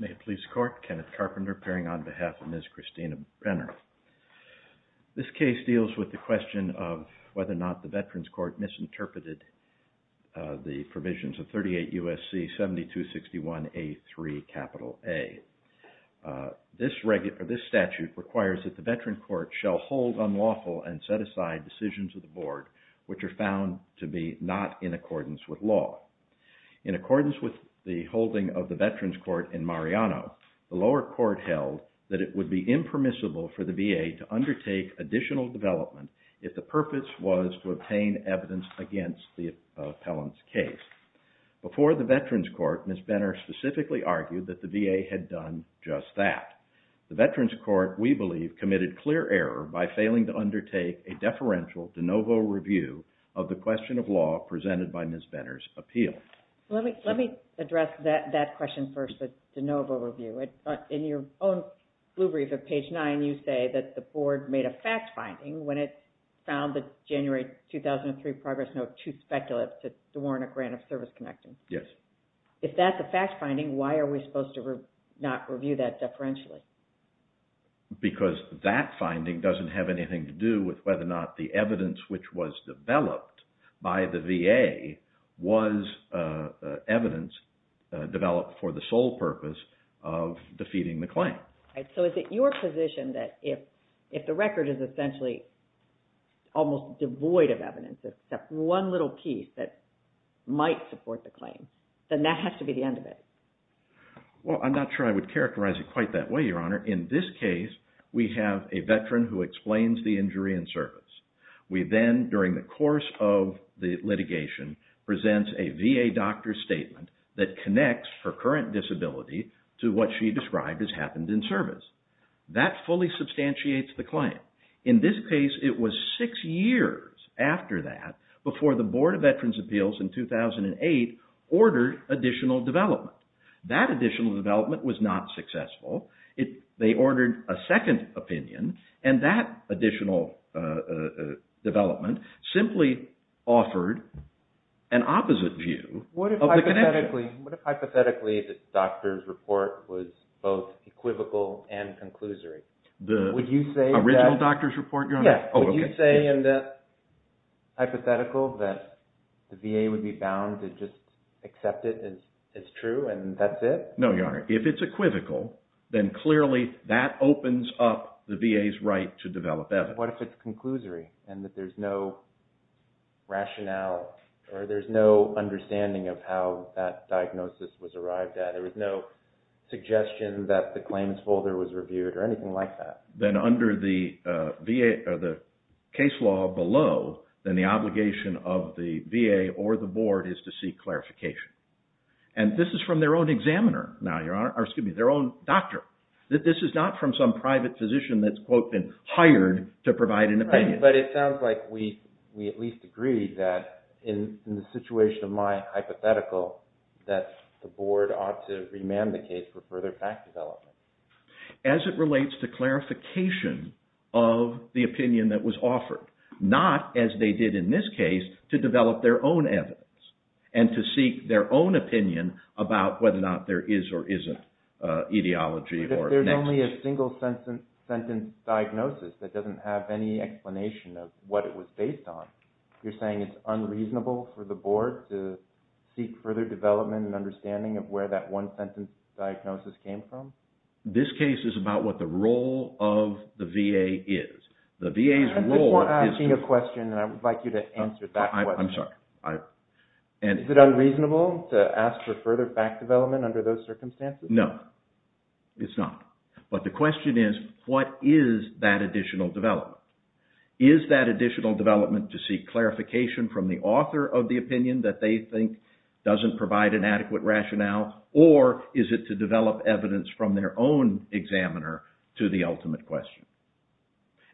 May it please the court, Kenneth Carpenter appearing on behalf of Ms. Christina Brenner. This case deals with the question of whether or not the Veterans Court misinterpreted the provisions of 38 U.S.C. 7261A3A. This statute requires that the Veterans Court shall hold unlawful and set aside decisions of the board which are found to be not in accordance with law. In accordance with the holding of the Veterans Court in Mariano, the lower court held that it would be impermissible for the VA to undertake additional development if the purpose was to obtain evidence against the appellant's case. Before the Veterans Court, Ms. Brenner specifically argued that the VA had done just that. The Veterans Court, we believe, committed clear error by failing to undertake a deferential de novo review of the question of law presented by Ms. Brenner's appeal. Let me address that question first, the de novo review. In your own blue brief at page 9, you say that the board made a fact-finding when it found the January 2003 Progress Note too speculative to warrant a grant of service connecting. Yes. If that's a fact-finding, why are we supposed to not review that deferentially? Because that finding doesn't have anything to do with whether or not the evidence which was developed by the VA was evidence developed for the sole purpose of defeating the claim. So is it your position that if the record is essentially almost devoid of evidence except one little piece that might support the claim, then that has to be the end of it? Well, I'm not sure I would characterize it quite that way, Your Honor. In this case, we have a veteran who explains the injury in service. We then, during the course of the litigation, present a VA doctor's statement that connects her current disability to what she described as happened in service. That fully substantiates the claim. In this case, it was six years after that before the Board of Veterans' Appeals in 2008 ordered additional development. That additional development was not successful. They ordered a second opinion, and that additional development simply offered an opposite view of the connection. Hypothetically, what if hypothetically the doctor's report was both equivocal and conclusory? Would you say that... The original doctor's report, Your Honor? Yes. Oh, okay. Would you say in the hypothetical that the VA would be bound to just accept it as true and that's it? No, Your Honor. If it's equivocal, then clearly that opens up the VA's right to develop evidence. What if it's conclusory and that there's no rationale or there's no understanding of how that diagnosis was arrived at? There was no suggestion that the claims folder was reviewed or anything like that. Then under the VA or the case law below, then the obligation of the VA or the board is to seek clarification. And this is from their own examiner now, Your Honor, or excuse me, their own doctor. This is not from some private physician that's, quote, been hired to provide an opinion. But it sounds like we at least agree that in the situation of my hypothetical, that the board ought to remand the case for further fact development. As it relates to clarification of the opinion that was offered. Not as they did in this case to develop their own evidence and to seek their own opinion about whether or not there is or isn't etiology or next... diagnosis that doesn't have any explanation of what it was based on. You're saying it's unreasonable for the board to seek further development and understanding of where that one sentence diagnosis came from? This case is about what the role of the VA is. The VA's role is to... I think we're asking a question and I would like you to answer that question. I'm sorry. Is it unreasonable to ask for further fact development under those circumstances? No. It's not. But the question is, what is that additional development? Is that additional development to seek clarification from the author of the opinion that they think doesn't provide an adequate rationale? Or is it to develop evidence from their own examiner to the ultimate question?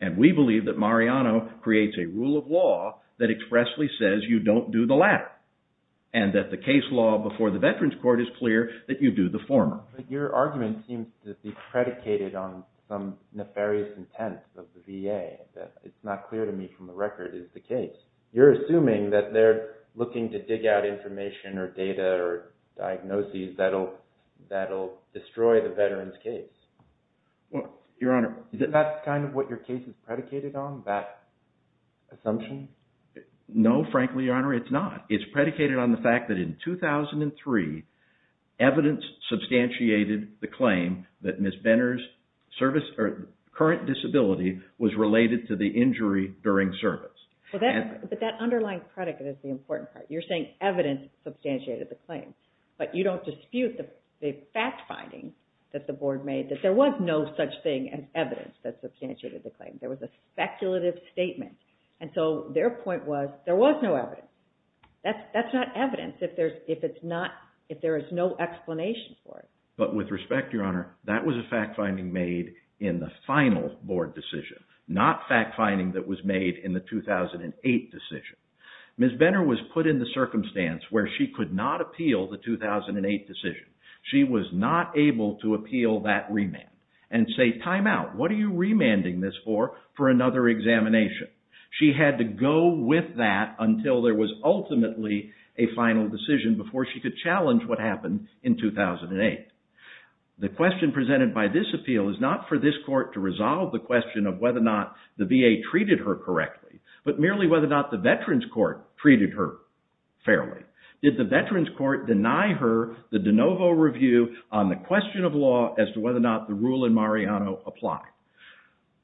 And we believe that Mariano creates a rule of law that expressly says you don't do the latter. And that the case law before the Veterans Court is clear that you do the former. Your argument seems to be predicated on some nefarious intent of the VA that it's not clear to me from the record is the case. You're assuming that they're looking to dig out information or data or diagnoses that'll destroy the veteran's case. Your Honor, is that kind of what your case is predicated on? That assumption? No, frankly, Your Honor, it's not. It's predicated on the fact that in 2003, evidence substantiated the claim that Ms. Benner's service or current disability was related to the injury during service. But that underlying predicate is the important part. You're saying evidence substantiated the claim. But you don't dispute the fact-finding that the Board made that there was no such thing as evidence that substantiated the claim. There was a speculative statement. And so their point was there was no evidence. That's not evidence if there is no explanation for it. But with respect, Your Honor, that was a fact-finding made in the final Board decision, not fact-finding that was made in the 2008 decision. Ms. Benner was put in the circumstance where she could not appeal the 2008 decision. She was not able to appeal that remand and say, time out, what are you remanding this for for another examination? She had to go with that until there was ultimately a final decision before she could challenge what happened in 2008. The question presented by this appeal is not for this Court to resolve the question of whether or not the VA treated her correctly, but merely whether or not the Veterans Court treated her fairly. Did the Veterans Court deny her the de novo review on the question of law as to whether or not the rule in Mariano applied?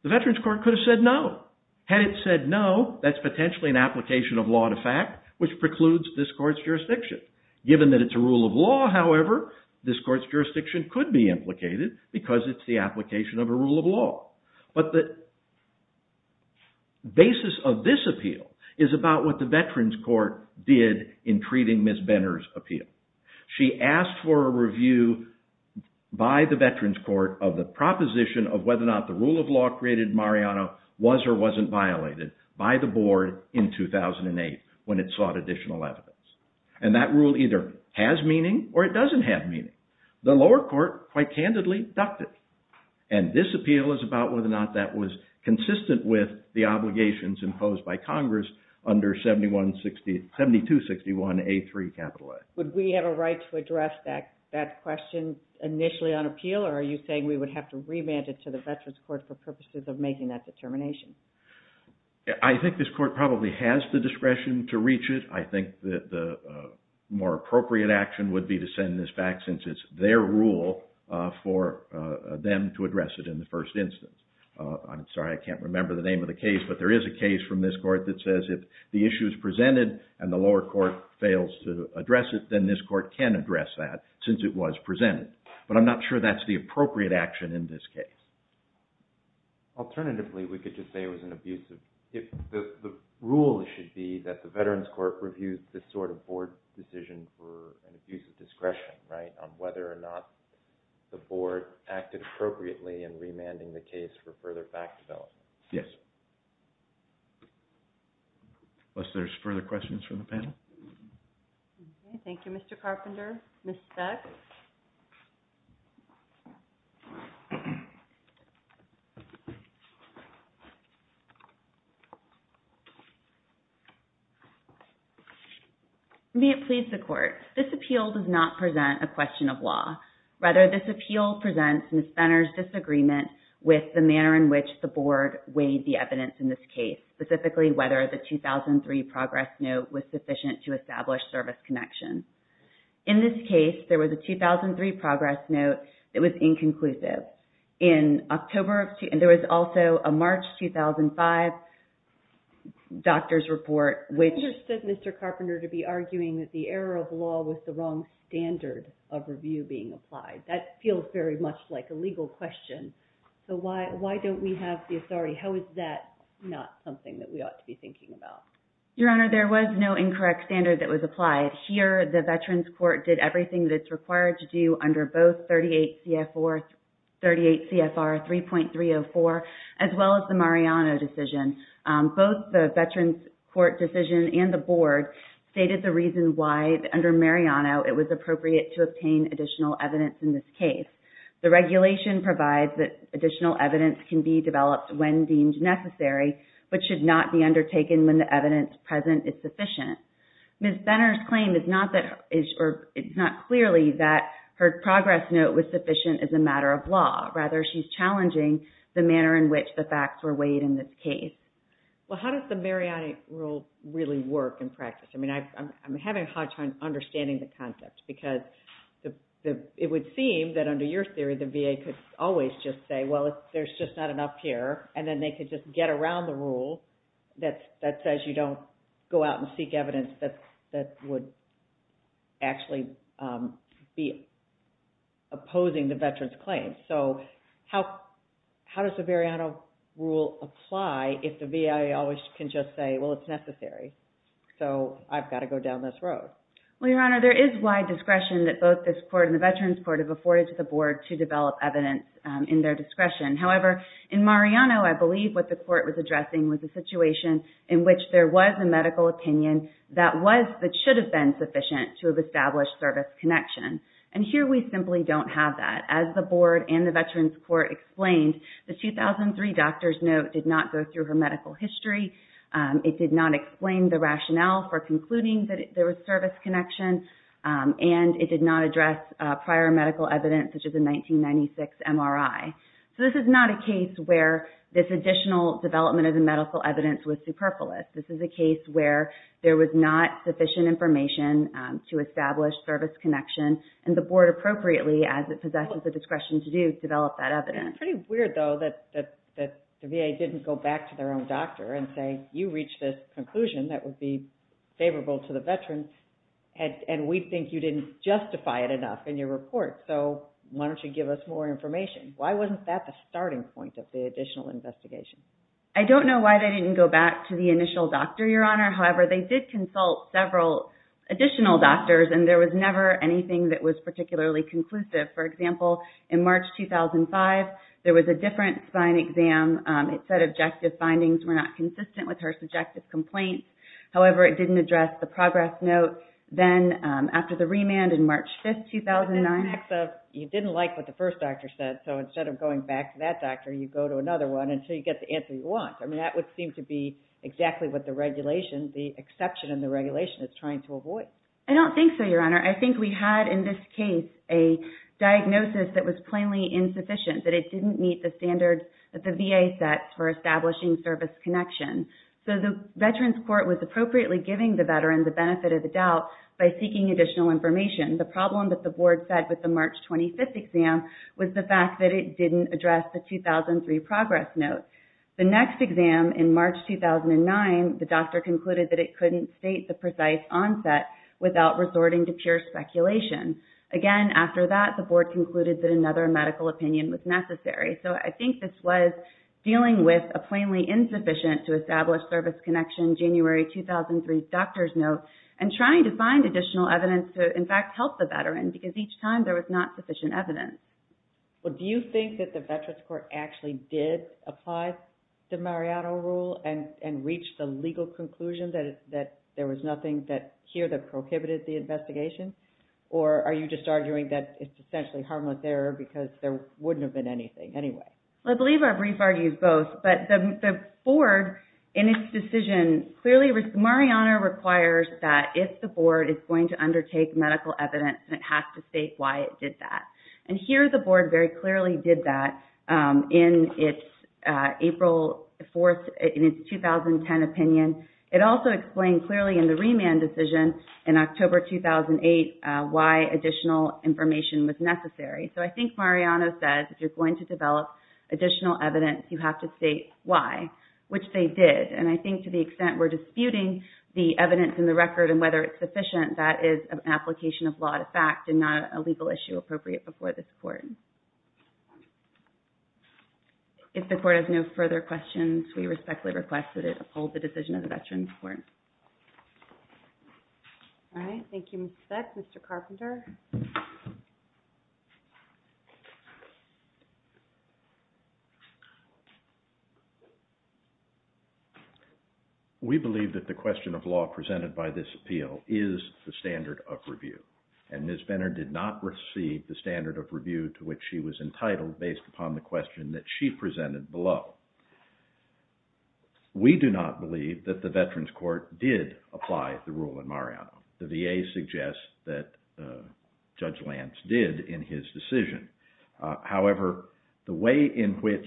The Veterans Court could have said no. Had it said no, that's potentially an application of law to fact, which precludes this Court's jurisdiction. Given that it's a rule of law, however, this Court's jurisdiction could be implicated because it's the application of a rule of law. But the basis of this appeal is about what the Veterans Court did in treating Ms. Benner's appeal. She asked for a review by the Veterans Court of the proposition of whether or not the rule of law created in Mariano was or wasn't violated by the Board in 2008 when it sought additional evidence. And that rule either has meaning or it doesn't have meaning. The lower court quite candidly ducked it. And this appeal is about whether or not that was consistent with the obligations imposed by Congress under 7261A3A. Would we have a right to address that question initially on appeal, or are you saying we would have to remand it to the Veterans Court for purposes of making that determination? I think this Court probably has the discretion to reach it. I think that the more appropriate action would be to send this back since it's their rule for them to address it in the first instance. I'm sorry, I can't remember the name of the case, but there is a case from this Court that says if the issue is presented and the lower court fails to address it, then this Court can address that since it was presented. But I'm not sure that's the appropriate action in this case. Alternatively, we could just say it was an abuse of... The rule should be that the Veterans Court reviews this sort of Board decision for an abuse of discretion, right, on whether or not the Board acted appropriately in remanding the case for further fact development. Yes. Unless there's further questions from the panel. Thank you, Mr. Carpenter. Ms. Speck? May it please the Court. This appeal does not present a question of law. Rather, this appeal presents Ms. Spenner's disagreement with the manner in which the Board weighed the evidence in this case, specifically whether the 2003 progress note was sufficient to establish service connections. In this case, there was a 2003 progress note that was inconclusive. In October... There was also a March 2005 doctor's report, which... I understand Mr. Carpenter to be arguing that the error of law was the wrong standard of review being applied. That feels very much like a legal question. So why don't we have the authority? How is that not something that we ought to be thinking about? Your Honor, there was no incorrect standard that was applied. Here, the Veterans Court did everything that's required to do under both 38 CFR 3.304, as well as the Mariano decision. Both the Veterans Court decision and the Board stated the reason why under Mariano it was appropriate to obtain additional evidence in this case. The regulation provides that additional evidence can be developed when deemed necessary, but should not be undertaken when the evidence present is sufficient. Ms. Benner's claim is not that... It's not clearly that her progress note was sufficient as a matter of law. Rather, she's challenging the manner in which the facts were weighed in this case. Well, how does the Mariano rule really work in practice? I mean, I'm having a hard time understanding the concept because it would seem that under your theory, the VA could always just say, well, there's just not enough here, and then they could just get around the rule that says you don't go out and seek evidence that would actually be opposing the Veterans' claim. So, how does the Mariano rule apply if the VA always can just say, well, it's necessary, so I've got to go down this road? Well, Your Honor, there is wide discretion that both this Court and the Veterans Court have afforded to the Board to develop evidence in their discretion. However, in Mariano, I believe what the Court was addressing was a situation in which there was a medical opinion that should have been sufficient to establish service connection. And here, we simply don't have that. As the Board and the Veterans Court explained, the 2003 doctor's note did not go through her medical history. It did not explain the rationale for concluding that there was service connection, and it did not address prior medical evidence, such as the 1996 MRI. So, this is not a case where this additional development of the medical evidence was superfluous. This is a case where there was not sufficient information to establish service connection, and the Board appropriately, as it possesses the discretion to do, developed that evidence. It's pretty weird, though, that the VA didn't go back to their own doctor and say, you reached this conclusion that would be favorable to the Veterans, and we think you didn't justify it enough in your report, so why don't you give us more information? Why wasn't that the starting point of the additional investigation? I don't know why they didn't go back to the initial doctor, Your Honor. However, they did consult several additional doctors, and there was never anything that was particularly conclusive. For example, in March 2005, there was a different spine exam. It said objective findings were not consistent with her subjective complaints. However, it didn't address the progress note. Then, after the remand in March 5, 2009... You didn't like what the first doctor said, so instead of going back to that doctor, you go to another one until you get the answer you want. That would seem to be exactly what the exception in the regulation is trying to avoid. I don't think so, Your Honor. I think we had, in this case, a diagnosis that was plainly insufficient, that it didn't meet the standards that the VA set for establishing service connection. The Veterans Court was appropriately giving the Veterans the benefit of the doubt by seeking additional information. The problem that the board set with the March 25 exam was the fact that it didn't address the 2003 progress note. The next exam, in March 2009, the doctor concluded that it couldn't state the precise onset without resorting to pure speculation. Again, after that, the board concluded that another medical opinion was necessary. I think this was dealing with a plainly insufficient to establish service connection January 2003 doctor's note and trying to find additional evidence to, in fact, help the veteran, because each time there was not sufficient evidence. Do you think that the Veterans Court actually did apply the Mariano Rule and reach the legal conclusion that there was nothing here that prohibited the investigation, or are you just arguing that it's essentially harmless error because there wouldn't have been anything anyway? Well, I believe I've brief argued both, but the board, in its decision, clearly Mariano requires that if the board is going to undertake medical evidence, it has to state why it did that. Here, the board very clearly did that in its April 4th, in its 2010 opinion. It also explained clearly in the remand decision in October 2008 why additional information was necessary. I think Mariano says if you're going to develop additional evidence, you have to state why, which they did. I think to the extent we're disputing the evidence in the record and whether it's sufficient, that is an application of law to fact and not a legal issue appropriate before this court. If the court has no further questions, we respectfully request that it uphold the decision of the Veterans Court. All right. Thank you, Ms. Speck. Mr. Carpenter? We believe that the question of law presented by this appeal is the standard of review. And Ms. Benner did not receive the standard of review to which she was entitled, based upon the question that she presented below. We do not believe that the Veterans Court did apply the rule in Mariano. The VA suggests that it did not. Judge Lance did in his decision. However, the way in which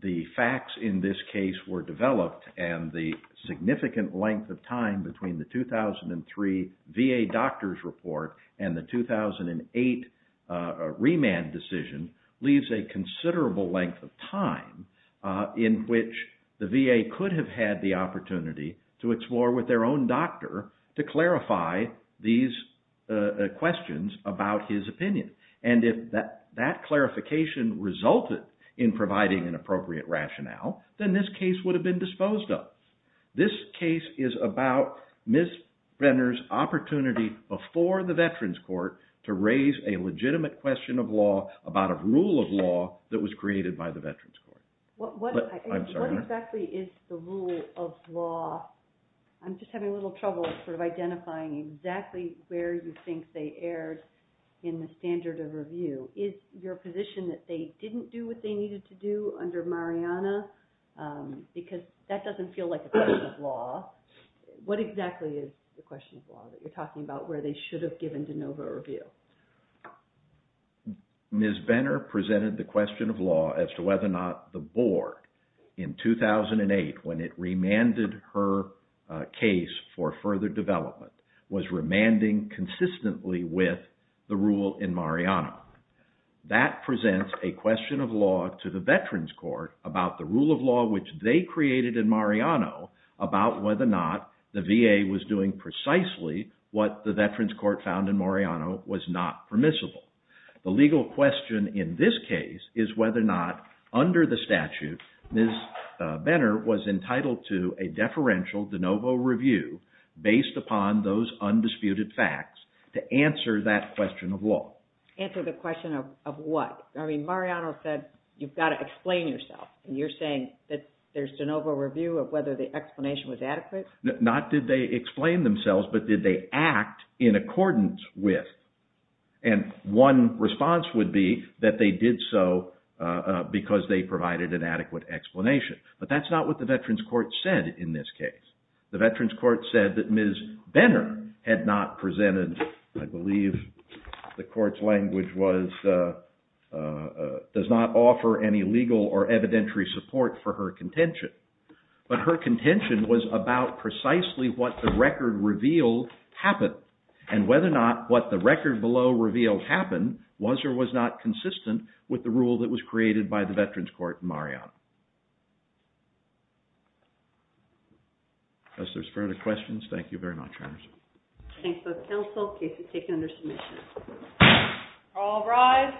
the facts in this case were developed and the significant length of time between the 2003 VA doctor's report and the 2008 remand decision leaves a considerable length of time in which the VA could have had the opportunity to explore with their own doctor to clarify these questions about his opinion. And if that clarification resulted in providing an appropriate rationale, then this case would have been disposed of. This case is about Ms. Benner's opportunity before the Veterans Court to raise a legitimate question of law about a rule of law that was created by the Veterans Court. What exactly is the rule of law? I'm just having a little trouble sort of identifying exactly where you think they erred in the standard of review. Is your position that they didn't do what they needed to do under Mariano? Because that doesn't feel like a question of law. What exactly is the question of law that you're talking about where they should have given DeNova a review? Ms. Benner presented the question of law as to whether or not the Board, in 2008, when it remanded her case for further development, was remanding consistently with the rule in Mariano. That presents a question of law to the Veterans Court about the rule of law which they created in Mariano about whether or not the VA was doing precisely what the Veterans Court found in Mariano was not permissible. The legal question in this case is whether or not, under the statute, Ms. Benner was entitled to a deferential DeNova review based upon those undisputed facts to answer that question of law. Answer the question of what? I mean, Mariano said you've got to explain yourself. You're saying that there's DeNova review of whether the explanation was adequate? Not did they explain themselves, but did they act in accordance with? And one response would be that they did so because they provided an adequate explanation. But that's not what the Veterans Court said in this case. The Veterans Court said that Ms. Benner had not presented, I believe the court's language was, does not offer any legal or evidentiary support for her contention. But her contention was about precisely what the record revealed happened and whether or not what the record below revealed happened was or was not consistent with the rule that was created by the Veterans Court in Mariano. Unless there's further questions, thank you very much. Thank you both counsel. Case is taken under submission. All rise.